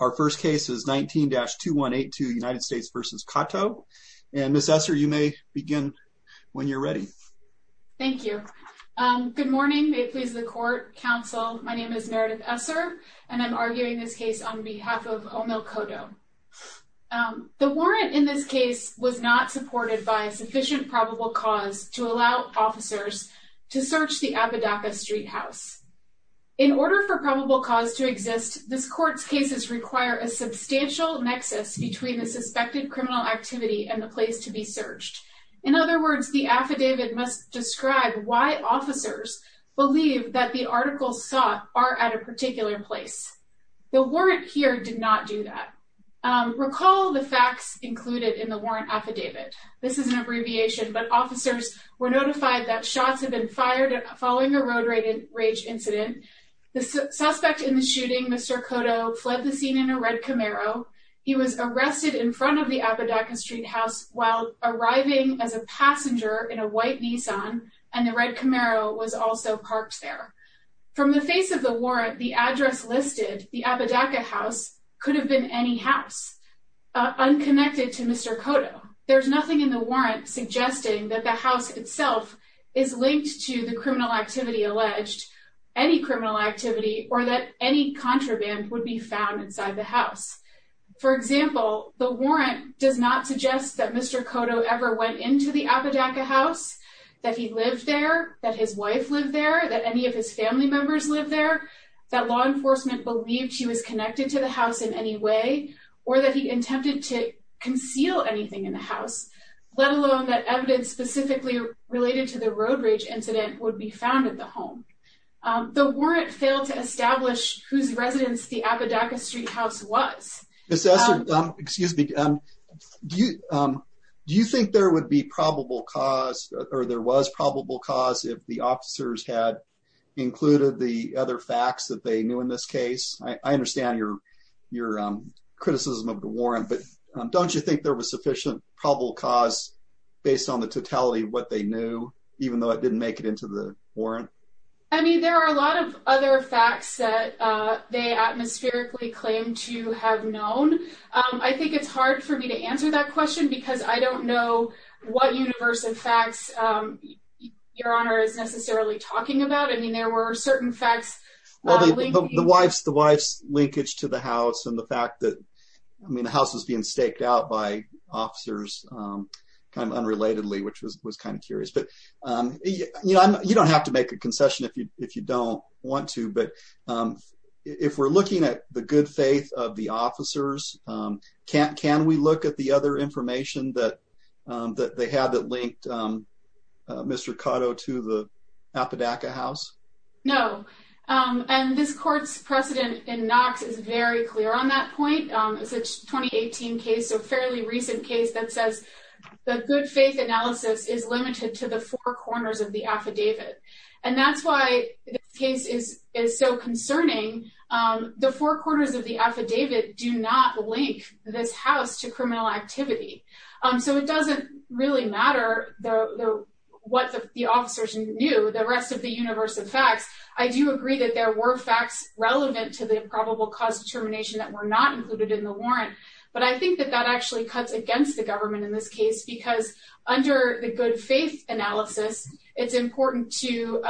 Our first case is 19-2182 United States v. Cotto, and Ms. Esser, you may begin when you're ready. Thank you. Good morning, may it please the court, counsel. My name is Meredith Esser, and I'm arguing this case on behalf of Omil Cotto. The warrant in this case was not supported by sufficient probable cause to allow officers to search the Apodaca Street house. In order for probable cause to exist, this court's cases require a substantial nexus between the suspected criminal activity and the place to be searched. In other words, the affidavit must describe why officers believe that the articles sought are at a particular place. The warrant here did not do that. Recall the facts included in the warrant affidavit. This is an abbreviation, but officers were notified that shots had been fired following a road rage incident. The suspect in the shooting, Mr. Cotto, fled the scene in a red Camaro. He was arrested in front of the Apodaca Street house while arriving as a passenger in a white Nissan, and the red Camaro was also parked there. From the face of the warrant, the address listed, the Apodaca House, could have been any house, unconnected to Mr. Cotto. There's nothing in the warrant suggesting that the house itself is linked to the criminal activity alleged, any criminal activity, or that any contraband would be found inside the house. For example, the warrant does not suggest that Mr. Cotto ever went into the Apodaca House, that he lived there, that his wife lived there, that any of his family members lived there, that law enforcement believed he was connected to the house in any way, or that he attempted to conceal anything in the house, let alone that evidence specifically related to the road rage incident would be found at the home. The warrant failed to establish whose residence the Apodaca Street house was. Excuse me, do you think there would be probable cause, or there was probable cause, if the officers had included the other facts that they knew in this case? I understand your criticism of the warrant, but don't you think there was sufficient probable cause based on the totality of what they knew, even though it didn't make it into the warrant? I mean, there are a lot of other facts that they atmospherically claim to have known. I think it's hard for me to answer that question because I don't know what universe of facts Your Honor is necessarily talking about. I mean, there were certain facts. The wife's linkage to the house and the fact that, I mean, the house was being staked out by officers kind of unrelatedly, which was kind of curious. You don't have to make a concession if you don't want to, but if we're looking at the good faith of the officers, can we look at the other information that they had that linked Mr. Cotto to the Apodaca house? No, and this court's precedent in Knox is very clear on that point. It's a 2018 case, so a fairly recent case that says the good faith analysis is limited to the four corners of the affidavit. And that's why this case is so concerning. The four corners of the affidavit do not link this house to criminal activity. So it doesn't really matter what the officers knew. The rest of the universe of facts, I do agree that there were facts relevant to the probable cause determination that were not included in the warrant. But I think that that actually cuts against the government in this case because under the good faith analysis, it's important to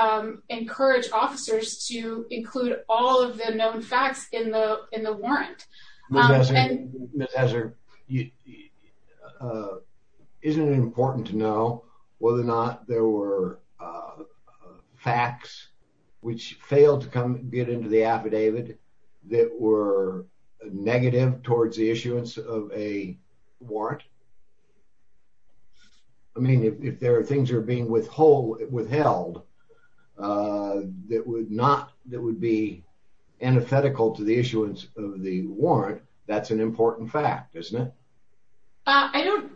encourage officers to include all of the known facts in the warrant. Isn't it important to know whether or not there were facts which failed to get into the affidavit that were negative towards the issuance of a warrant? I mean, if there are things that are being withheld that would be antithetical to the issuance of the warrant, that's an important fact, isn't it? I don't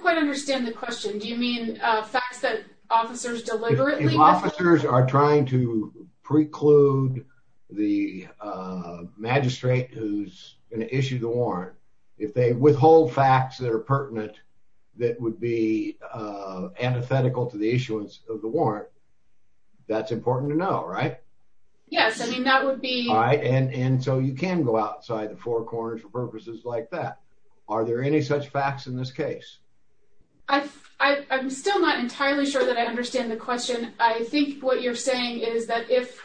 quite understand the question. Do you mean facts that officers deliberately missed? If officers are trying to preclude the magistrate who's going to issue the warrant, if they withhold facts that are pertinent that would be antithetical to the issuance of the warrant, that's important to know, right? Yes, I mean, that would be... And so you can go outside the four corners for purposes like that. Are there any such facts in this case? I'm still not entirely sure that I understand the question. I think what you're saying is that if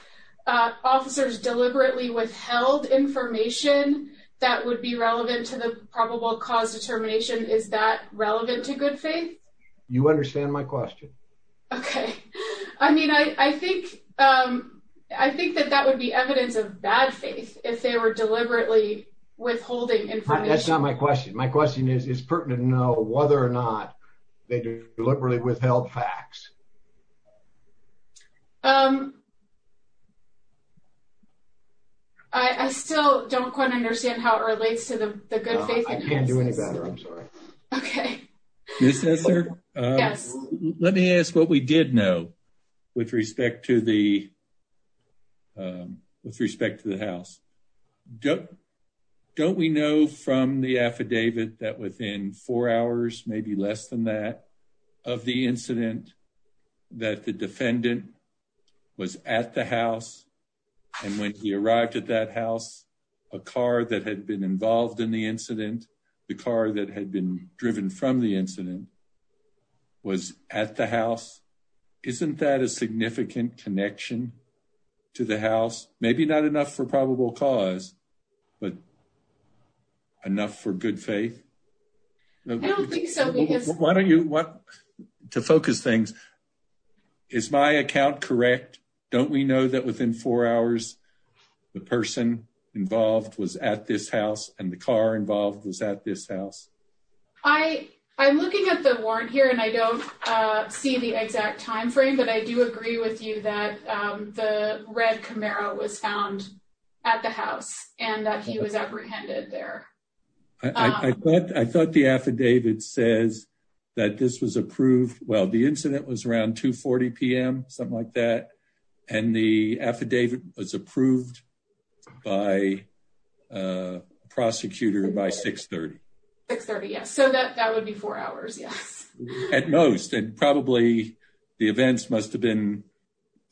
officers deliberately withheld information that would be relevant to the probable cause determination, is that relevant to good faith? You understand my question. Okay. I mean, I think that that would be evidence of bad faith if they were deliberately withholding information. That's not my question. My question is, is pertinent to know whether or not they deliberately withheld facts. I still don't quite understand how it relates to the good faith. I can't do any better. I'm sorry. Okay. Let me ask what we did know with respect to the, with respect to the house. Don't we know from the affidavit that within four hours, maybe less than that, of the incident, that the defendant was at the house. And when he arrived at that house, a car that had been involved in the incident, the car that had been driven from the incident, was at the house. Isn't that a significant connection to the house? Maybe not enough for probable cause, but enough for good faith? I don't think so. Why don't you, to focus things, is my account correct? Don't we know that within four hours, the person involved was at this house and the car involved was at this house? I, I'm looking at the warrant here and I don't see the exact timeframe, but I do agree with you that the red Camaro was found at the house and that he was apprehended there. I thought, I thought the affidavit says that this was approved. Well, the incident was around 2 40 PM, something like that. And the affidavit was approved by prosecutor by 630. 630. Yes. So that, that would be four hours. Yes. At most, and probably the events must've been,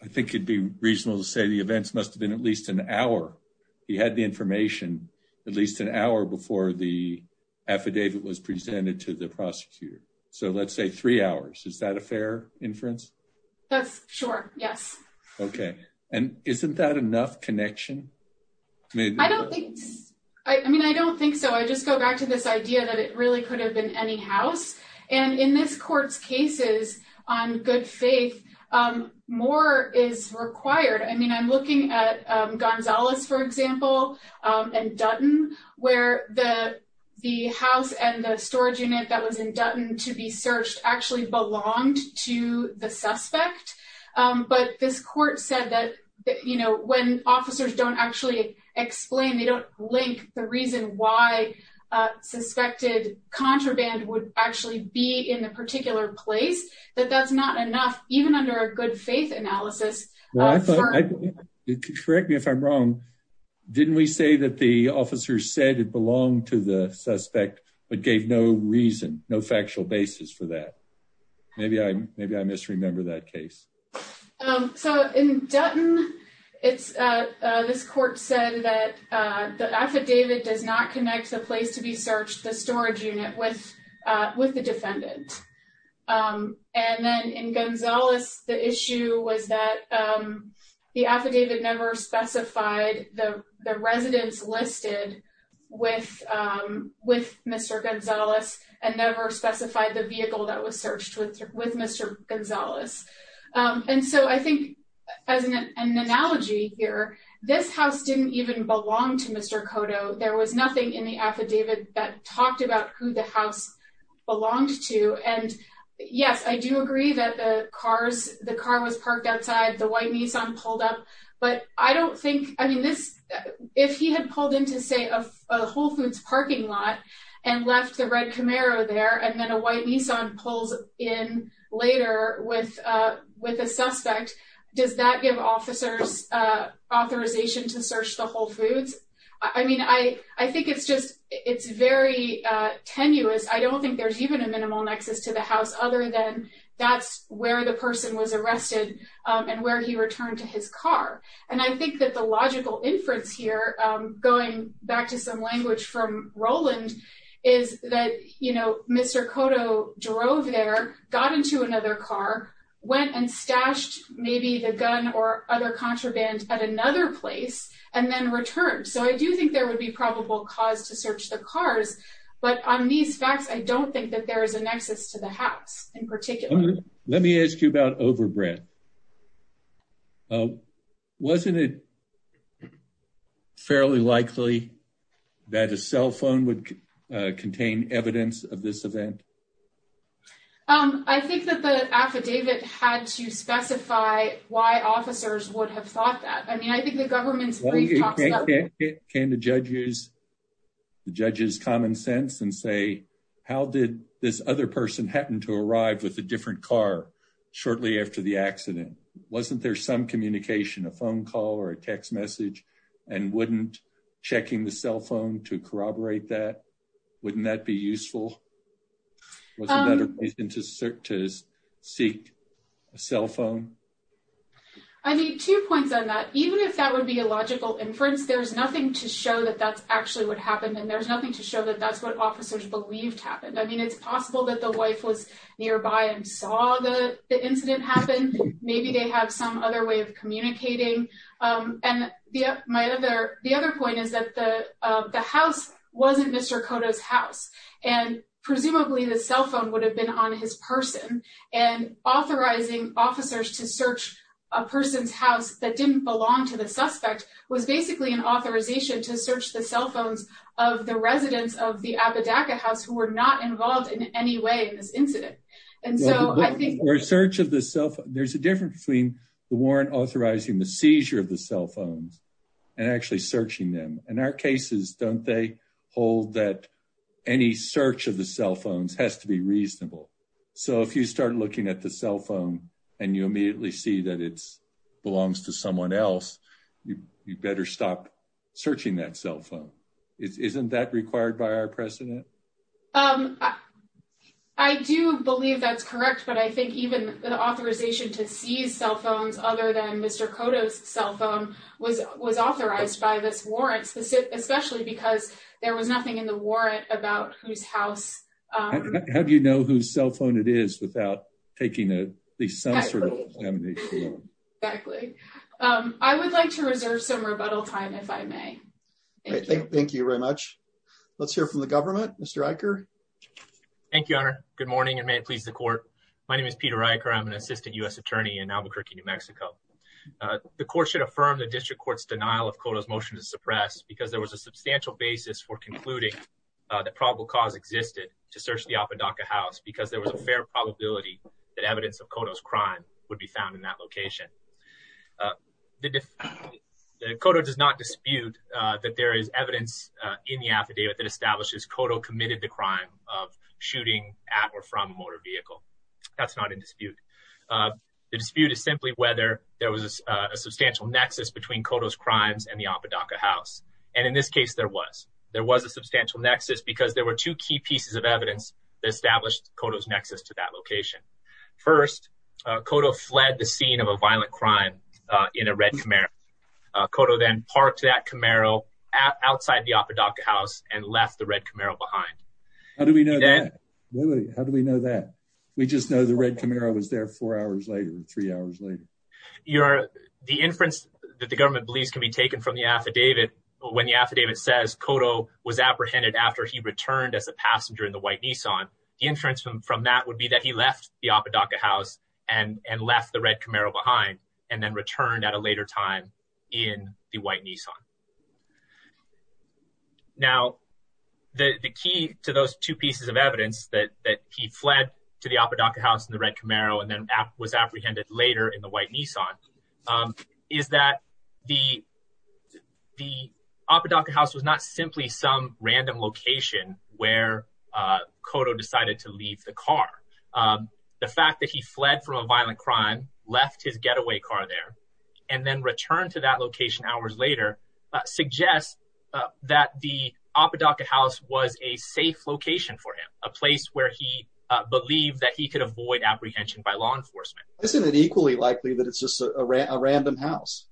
I think it'd be reasonable to say the events must've been at least an hour. He had the information at least an hour before the affidavit was presented to the prosecutor. So let's say three hours. Is that a fair inference? That's sure. Yes. Okay. And isn't that enough connection? I mean, I don't think so. I just go back to this idea that it really could have been any house. And in this court's cases on good faith, more is required. I mean, I'm looking at Gonzalez, for example, and Dutton, where the, the house and the storage unit that was in Dutton to be searched actually belonged to the suspect. But this court said that, you know, when officers don't actually explain, they don't link the reason why suspected contraband would actually be in a particular place that that's not enough, even under a good faith analysis. Correct me if I'm wrong. Didn't we say that the officers said it belonged to the suspect, but gave no reason no factual basis for that. Maybe I maybe I misremember that case. So, in Dutton, it's this court said that the affidavit does not connect the place to be searched the storage unit with with the defendant. And then in Gonzalez, the issue was that the affidavit never specified the residents listed with with Mr. Gonzalez and never specified the vehicle that was searched with with Mr. Gonzalez. And so I think as an analogy here, this house didn't even belong to Mr. Cotto, there was nothing in the affidavit that talked about who the house belongs to and yes I do agree that the cars, the car was parked outside the white Nissan pulled up, but I don't think I mean this. If he had pulled into say a Whole Foods parking lot and left the red Camaro there and then a white Nissan pulls in later with with a suspect. Does that give officers authorization to search the Whole Foods. I mean, I, I think it's just, it's very tenuous I don't think there's even a minimal nexus to the house, other than that's where the person was arrested and where he returned to his car. And I think that the logical inference here, going back to some language from Roland, is that, you know, Mr Cotto drove there, got into another car, went and stashed, maybe the gun or other contraband at another place, and then returned so I do think there would be probable cause to search the cars, but on these facts I don't think that there is a nexus to the house, in particular. Let me ask you about overbread. Oh, wasn't it fairly likely that a cell phone would contain evidence of this event. Um, I think that the affidavit had to specify why officers would have thought that I mean I think the government's came to judges, judges common sense and say, how did this other person happened to arrive with a different car. Shortly after the accident. Wasn't there some communication a phone call or a text message, and wouldn't checking the cell phone to corroborate that. Wouldn't that be useful. To search his seat. Cell phone. I need two points on that, even if that would be a logical inference there's nothing to show that that's actually what happened and there's nothing to show that that's what officers believed happened I mean it's possible that the wife was nearby and saw the incident happened. Maybe they have some other way of communicating. And the, my other. The other point is that the, the house wasn't Mr Kota's house, and presumably the cell phone would have been on his person and authorizing officers to search a person's house that didn't belong to the suspect was basically an authorization to search the cell phones of the residents of the house who were not involved in any way in this incident. And so I think research of the self, there's a difference between the warrant authorizing the seizure of the cell phones and actually searching them, and our cases don't they hold that any search of the cell phones has to be reasonable. So if you start looking at the cell phone, and you immediately see that it's belongs to someone else. You better stop searching that cell phone. Isn't that required by our precedent. I do believe that's correct but I think even the authorization to see cell phones, other than Mr Kota's cell phone was was authorized by this warrant specific especially because there was nothing in the warrant about whose house. How do you know who's cell phone it is without taking it. Exactly. I would like to reserve some rebuttal time if I may. Thank you very much. Let's hear from the government, Mr Iker. Thank you, honor. Good morning and may it please the court. My name is Peter Iker I'm an assistant US attorney in Albuquerque, New Mexico. The court should affirm the district courts denial of quotas motion to suppress because there was a substantial basis for concluding that probable cause existed to search the Apodaca house because there was a fair probability that evidence of quotas crime would be found in that location. The quota does not dispute that there is evidence in the affidavit that establishes Koto committed the crime of shooting at or from a motor vehicle. That's not in dispute. The dispute is simply whether there was a substantial nexus between quotas crimes and the Apodaca house. And in this case there was, there was a substantial nexus because there were two key pieces of evidence established quotas nexus to that location. First, Koto fled the scene of a violent crime in a red Camaro. Koto then parked that Camaro outside the Apodaca house and left the red Camaro behind. How do we know that? How do we know that? We just know the red Camaro was there four hours later, three hours later. The inference that the government believes can be taken from the affidavit when the affidavit says Koto was apprehended after he returned as a passenger in the white Nissan. The inference from that would be that he left the Apodaca house and left the red Camaro behind and then returned at a later time in the white Nissan. Now, the key to those two pieces of evidence that he fled to the Apodaca house in the red Camaro and then was apprehended later in the white Nissan is that the Apodaca house was not simply some random location where Koto decided to leave the car. The fact that he fled from a violent crime, left his getaway car there, and then returned to that location hours later suggests that the Apodaca house was a safe location for him, a place where he believed that he could avoid apprehension by law enforcement. Isn't it equally likely that it's just a random house?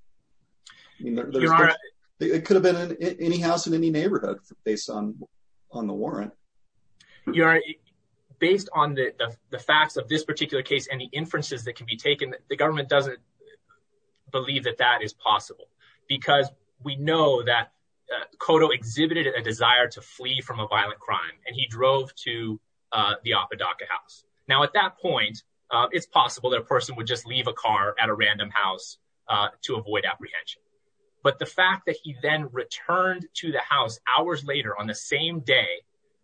It could have been any house in any neighborhood based on the warrant. Based on the facts of this particular case and the inferences that can be taken, the government doesn't believe that that is possible because we know that Koto exhibited a desire to flee from a violent crime and he drove to the Apodaca house. Now, at that point, it's possible that a person would just leave a car at a random house to avoid apprehension. But the fact that he then returned to the house hours later on the same day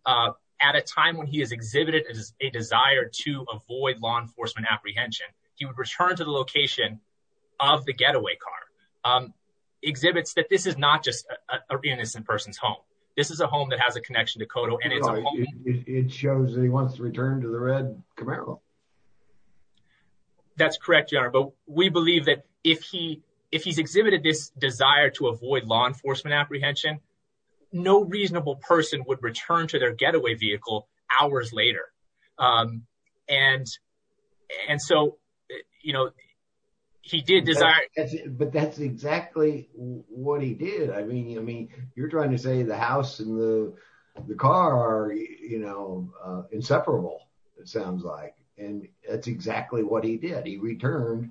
at a time when he has exhibited a desire to avoid law enforcement apprehension, he would return to the location of the getaway car, exhibits that this is not just an innocent person's home. This is a home that has a connection to Koto. It shows that he wants to return to the red Camaro. That's correct, but we believe that if he's exhibited this desire to avoid law enforcement apprehension, no reasonable person would return to their getaway vehicle hours later. And so, you know, he did desire. But that's exactly what he did. I mean, I mean, you're trying to say the house and the car are, you know, inseparable. It sounds like and that's exactly what he did. He returned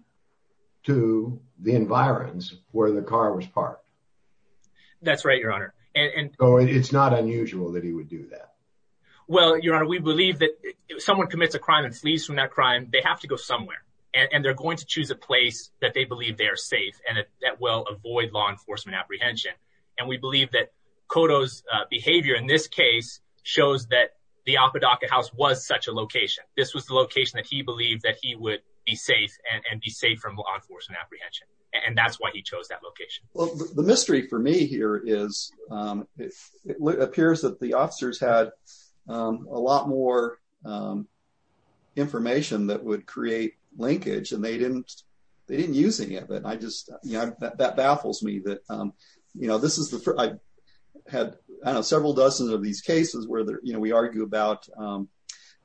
to the environs where the car was parked. That's right, Your Honor. And it's not unusual that he would do that. Well, Your Honor, we believe that someone commits a crime and flees from that crime. They have to go somewhere and they're going to choose a place that they believe they are safe and that will avoid law enforcement apprehension. And we believe that Koto's behavior in this case shows that the Apodaca House was such a location. This was the location that he believed that he would be safe and be safe from law enforcement apprehension. And that's why he chose that location. Well, the mystery for me here is it appears that the officers had a lot more information that would create linkage and they didn't they didn't use any of it. I just that baffles me that, you know, this is the I had several dozen of these cases where, you know, we argue about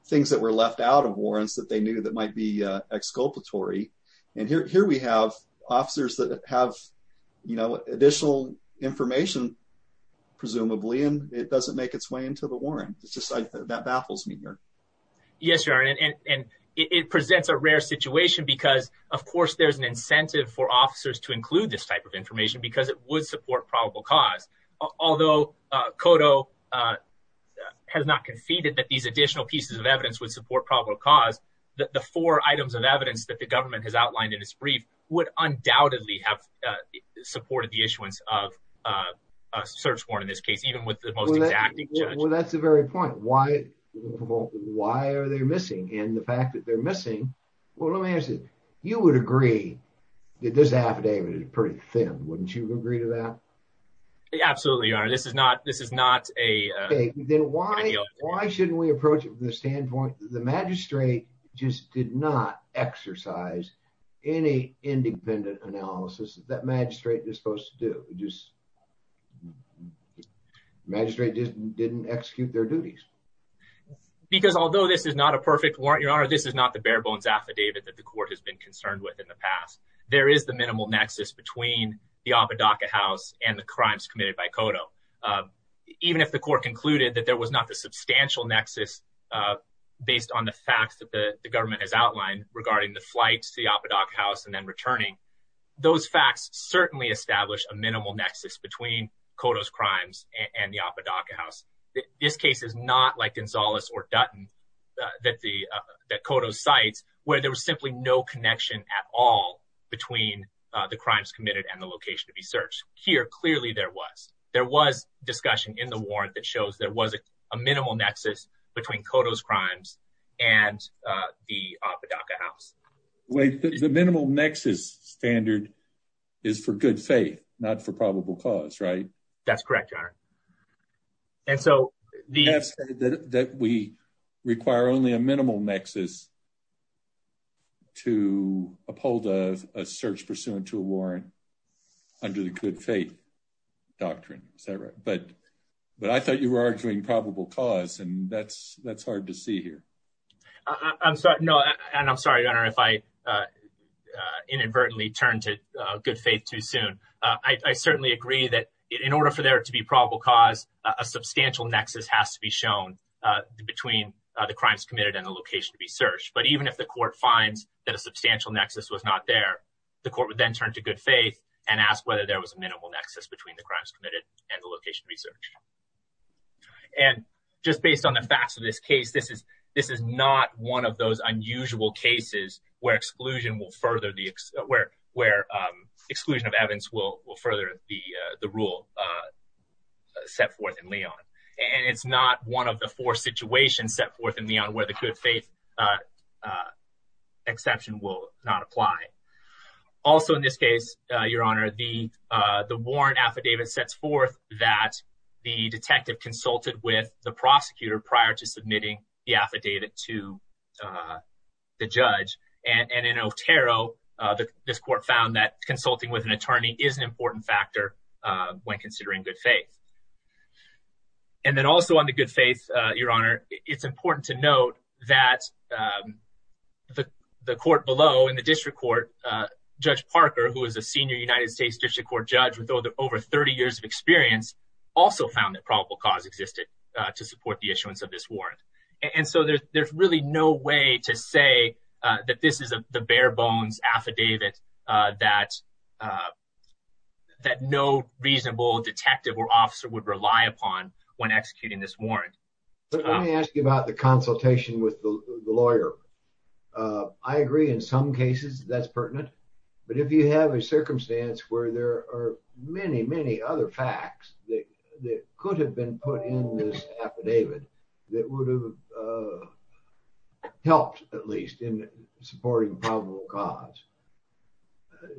things that were left out of warrants that they knew that might be exculpatory. And here we have officers that have, you know, additional information, presumably, and it doesn't make its way into the warrant. It's just that baffles me here. Yes, Your Honor. And it presents a rare situation because, of course, there's an incentive for officers to include this type of information because it would support probable cause. Although Koto has not conceded that these additional pieces of evidence would support probable cause, the four items of evidence that the government has outlined in its brief would undoubtedly have supported the issuance of a search warrant in this case, even with the most exacting judge. Well, that's the very point. Why? Why are they missing? And the fact that they're missing. Well, let me ask you, you would agree that this affidavit is pretty thin. Wouldn't you agree to that? Absolutely, Your Honor. This is not this is not a. Then why? Why shouldn't we approach it from the standpoint that the magistrate just did not exercise any independent analysis that magistrate is supposed to do? Just magistrate just didn't execute their duties. Because although this is not a perfect warrant, Your Honor, this is not the bare bones affidavit that the court has been concerned with in the past. There is the minimal nexus between the Apodaca House and the crimes committed by Koto, even if the court concluded that there was not the substantial nexus based on the facts that the government has outlined regarding the flights to the Apodaca House and then returning. Those facts certainly establish a minimal nexus between Koto's crimes and the Apodaca House. This case is not like Gonzalez or Dutton that the Koto sites where there was simply no connection at all between the crimes committed and the location to be searched here. Clearly, there was there was discussion in the warrant that shows there was a minimal nexus between Koto's crimes and the Apodaca House. Wait, the minimal nexus standard is for good faith, not for probable cause, right? That's correct, Your Honor. And so the... You have said that we require only a minimal nexus to uphold a search pursuant to a warrant under the good faith doctrine. Is that right? But I thought you were arguing probable cause and that's hard to see here. I'm sorry. No, and I'm sorry, Your Honor, if I inadvertently turned to good faith too soon. I certainly agree that in order for there to be probable cause, a substantial nexus has to be shown between the crimes committed and the location to be searched. But even if the court finds that a substantial nexus was not there, the court would then turn to good faith and ask whether there was a minimal nexus between the crimes committed and the location to be searched. And just based on the facts of this case, this is not one of those unusual cases where exclusion of evidence will further the rule set forth in Leon. And it's not one of the four situations set forth in Leon where the good faith exception will not apply. Also, in this case, Your Honor, the warrant affidavit sets forth that the detective consulted with the prosecutor prior to submitting the affidavit to the judge. And in Otero, this court found that consulting with an attorney is an important factor when considering good faith. And then also on the good faith, Your Honor, it's important to note that the court below in the district court, Judge Parker, who is a senior United States district court judge with over 30 years of experience, also found that probable cause existed to support the issuance of this warrant. And so there's really no way to say that this is the bare bones affidavit that no reasonable detective or officer would rely upon when executing this warrant. But let me ask you about the consultation with the lawyer. I agree in some cases that's pertinent. But if you have a circumstance where there are many, many other facts that could have been put in this affidavit that would have helped at least in supporting probable cause.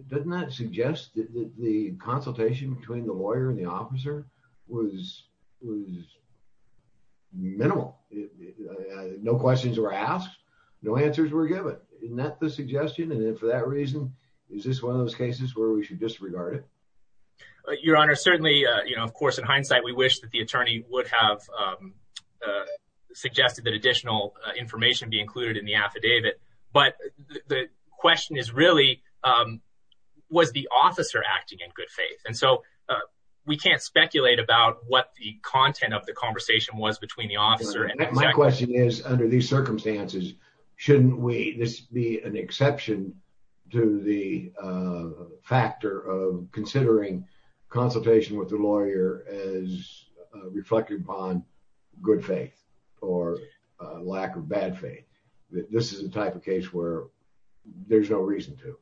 Doesn't that suggest that the consultation between the lawyer and the officer was was minimal? No questions were asked. No answers were given. Isn't that the suggestion? And then for that reason, is this one of those cases where we should disregard it? Your Honor, certainly, of course, in hindsight, we wish that the attorney would have suggested that additional information be included in the affidavit. But the question is really, was the officer acting in good faith? And so we can't speculate about what the content of the conversation was between the officer. My question is, under these circumstances, shouldn't we just be an exception to the factor of considering consultation with the lawyer as reflected upon good faith or lack of bad faith? This is the type of case where there's no reason to.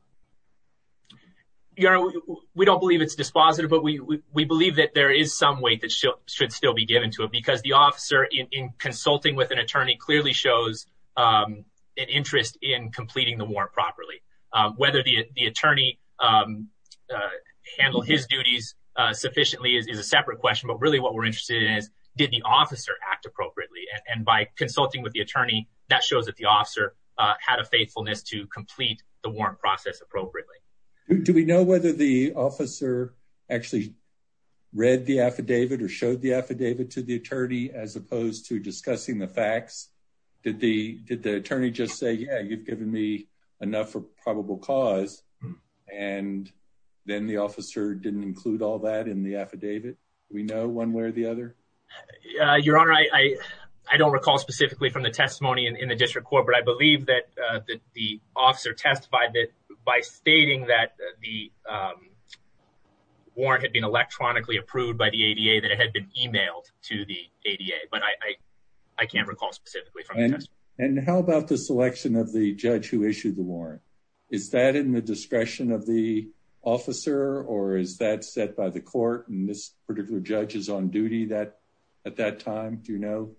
Your Honor, we don't believe it's dispositive, but we believe that there is some weight that should still be given to it, because the officer in consulting with an attorney clearly shows an interest in completing the warrant properly. Whether the attorney handled his duties sufficiently is a separate question. But really what we're interested in is, did the officer act appropriately? And by consulting with the attorney, that shows that the officer had a faithfulness to complete the warrant process appropriately. Do we know whether the officer actually read the affidavit or showed the affidavit to the attorney as opposed to discussing the facts? Did the attorney just say, yeah, you've given me enough for probable cause, and then the officer didn't include all that in the affidavit? Do we know one way or the other? Your Honor, I don't recall specifically from the testimony in the district court, but I believe that the officer testified that by stating that the warrant had been electronically approved by the ADA, that it had been emailed to the ADA. But I can't recall specifically from the testimony. And how about the selection of the judge who issued the warrant? Is that in the discretion of the officer, or is that set by the court and this particular judge is on duty at that time? Do you know?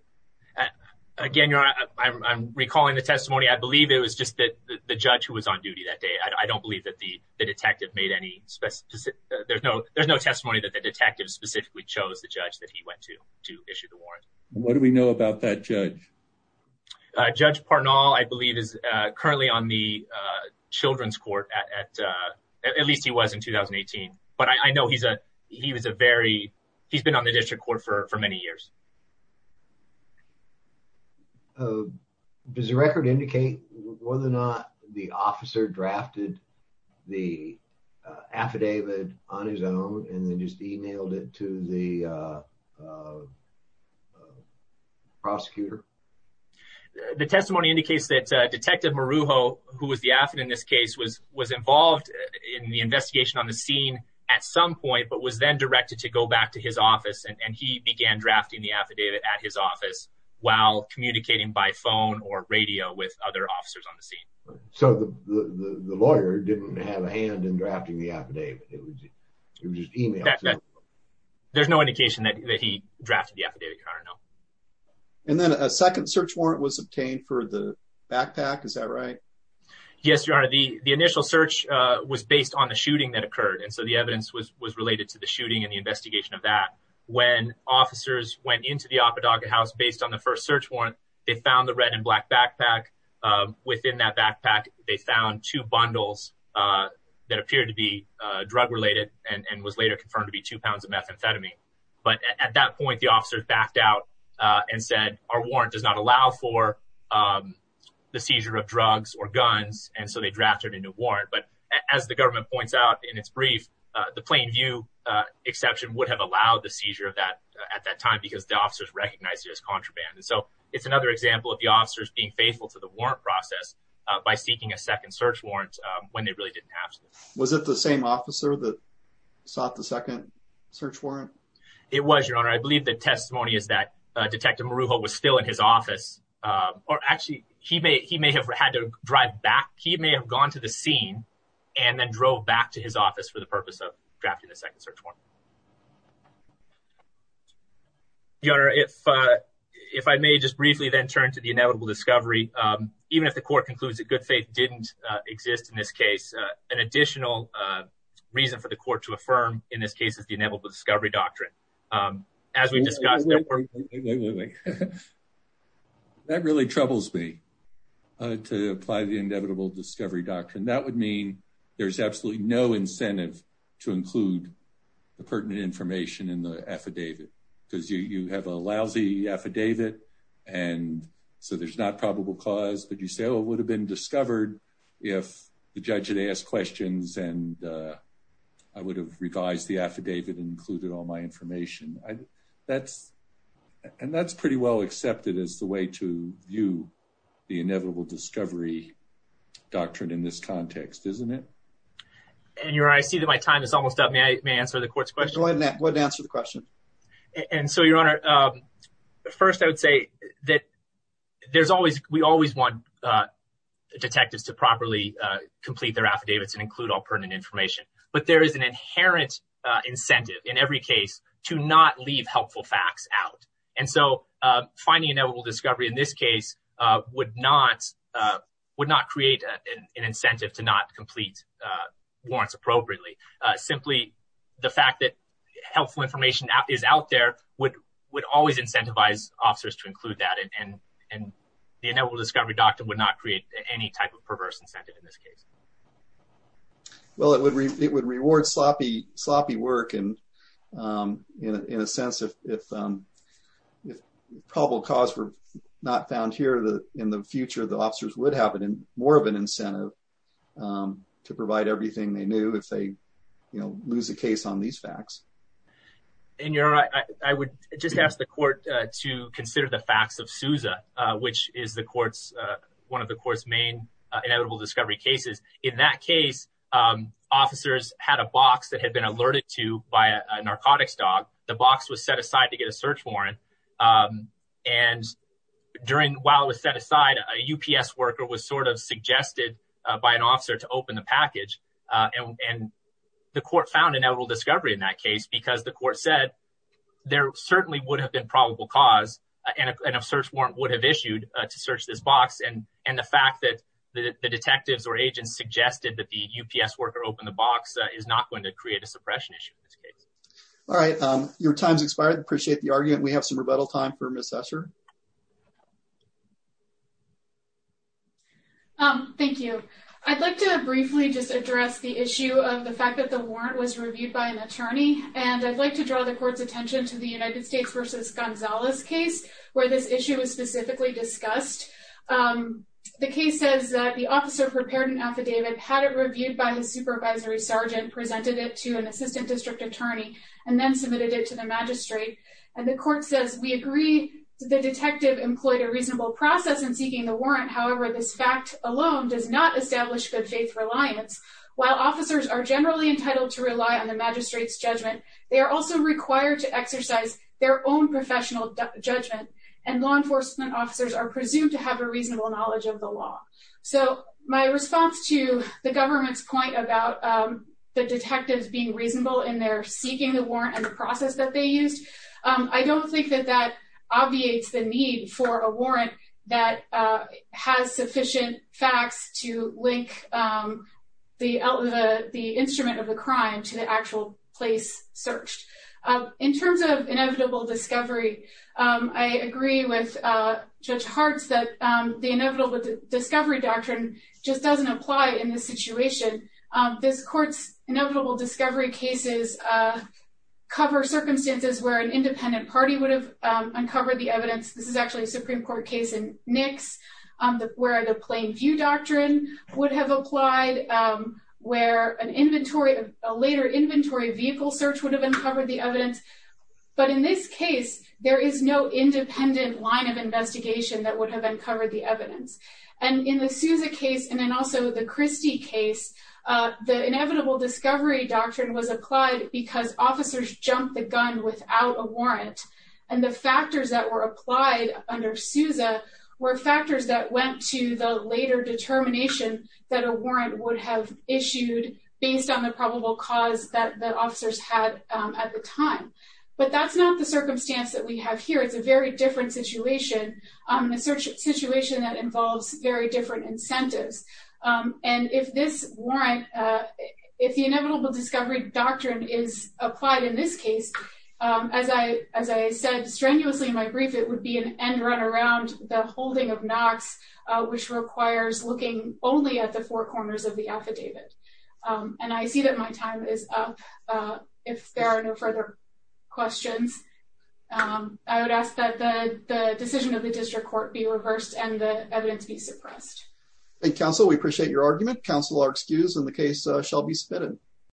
Again, Your Honor, I'm recalling the testimony. I believe it was just the judge who was on duty that day. I don't believe that the detective made any specific – there's no testimony that the detective specifically chose the judge that he went to to issue the warrant. What do we know about that judge? Judge Parnall, I believe, is currently on the children's court. At least he was in 2018. But I know he's a very – he's been on the district court for many years. Does the record indicate whether or not the officer drafted the affidavit on his own and then just emailed it to the prosecutor? The testimony indicates that Detective Marujo, who was the affidavit in this case, was involved in the investigation on the scene at some point, but was then directed to go back to his office, and he began drafting the affidavit at his office while communicating by phone or radio with other officers on the scene. So the lawyer didn't have a hand in drafting the affidavit. It was just emailed. There's no indication that he drafted the affidavit, Your Honor, no. And then a second search warrant was obtained for the backpack, is that right? Yes, Your Honor. The initial search was based on the shooting that occurred, and so the evidence was related to the shooting and the investigation of that. When officers went into the Apodoga House based on the first search warrant, they found the red and black backpack. Within that backpack, they found two bundles that appeared to be drug-related and was later confirmed to be two pounds of methamphetamine. But at that point, the officers backed out and said, Our warrant does not allow for the seizure of drugs or guns, and so they drafted a new warrant. But as the government points out in its brief, the plain view exception would have allowed the seizure at that time because the officers recognized it as contraband. And so it's another example of the officers being faithful to the warrant process by seeking a second search warrant when they really didn't have to. Was it the same officer that sought the second search warrant? It was, Your Honor. I believe the testimony is that Detective Marujo was still in his office, or actually he may have had to drive back. He may have gone to the scene and then drove back to his office for the purpose of drafting a second search warrant. Your Honor, if I may just briefly then turn to the inevitable discovery, even if the court concludes that good faith didn't exist in this case, an additional reason for the court to affirm in this case is the inevitable discovery doctrine. As we discussed, that really troubles me to apply the inevitable discovery doctrine. That would mean there's absolutely no incentive to include the pertinent information in the affidavit because you have a lousy affidavit. And so there's not probable cause. But you say, oh, it would have been discovered if the judge had asked questions and I would have revised the affidavit and included all my information. That's and that's pretty well accepted as the way to view the inevitable discovery doctrine in this context, isn't it? And Your Honor, I see that my time is almost up. May I answer the court's question? Go ahead and answer the question. And so, Your Honor, first, I would say that there's always we always want detectives to properly complete their affidavits and include all pertinent information. But there is an inherent incentive in every case to not leave helpful facts out. And so finding a novel discovery in this case would not would not create an incentive to not complete warrants appropriately. Simply the fact that helpful information is out there would would always incentivize officers to include that. And the inevitable discovery doctrine would not create any type of perverse incentive in this case. Well, it would it would reward sloppy, sloppy work. And in a sense of if probable cause were not found here in the future, the officers would have more of an incentive to provide everything they knew if they lose a case on these facts. And your I would just ask the court to consider the facts of Sousa, which is the court's one of the court's main inevitable discovery cases. In that case, officers had a box that had been alerted to by a narcotics dog. The box was set aside to get a search warrant. And during while it was set aside, a UPS worker was sort of suggested by an officer to open the package. And the court found an edible discovery in that case because the court said there certainly would have been probable cause and a search warrant would have issued to search this box. And and the fact that the detectives or agents suggested that the UPS worker open the box is not going to create a suppression issue. All right. Your time's expired. Appreciate the argument. We have some rebuttal time for Mr. Thank you. I'd like to briefly just address the issue of the fact that the warrant was reviewed by an attorney. And I'd like to draw the court's attention to the United States versus Gonzalez case where this issue is specifically discussed. The case says that the officer prepared an affidavit, had it reviewed by his supervisory sergeant, presented it to an assistant district attorney and then submitted it to the magistrate. And the court says, we agree. The detective employed a reasonable process in seeking the warrant. However, this fact alone does not establish good faith reliance. While officers are generally entitled to rely on the magistrate's judgment, they are also required to exercise their own professional judgment. And law enforcement officers are presumed to have a reasonable knowledge of the law. So my response to the government's point about the detectives being reasonable in their seeking the warrant and the process that they used. I don't think that that obviates the need for a warrant that has sufficient facts to link the the instrument of the crime to the actual place searched. In terms of inevitable discovery, I agree with Judge Hartz that the inevitable discovery doctrine just doesn't apply in this situation. This court's inevitable discovery cases cover circumstances where an independent party would have uncovered the evidence. This is actually a Supreme Court case in Nix, where the plain view doctrine would have applied, where a later inventory vehicle search would have uncovered the evidence. But in this case, there is no independent line of investigation that would have uncovered the evidence. And in the Souza case, and then also the Christie case, the inevitable discovery doctrine was applied because officers jumped the gun without a warrant. And the factors that were applied under Souza were factors that went to the later determination that a warrant would have issued based on the probable cause that the officers had at the time. But that's not the circumstance that we have here. It's a very different situation, a situation that involves very different incentives. And if this warrant, if the inevitable discovery doctrine is applied in this case, as I said strenuously in my brief, it would be an end run around the holding of Knox, which requires looking only at the four corners of the affidavit. And I see that my time is up. If there are no further questions, I would ask that the decision of the district court be reversed and the evidence be suppressed. And counsel, we appreciate your argument. Counsel are excused and the case shall be submitted.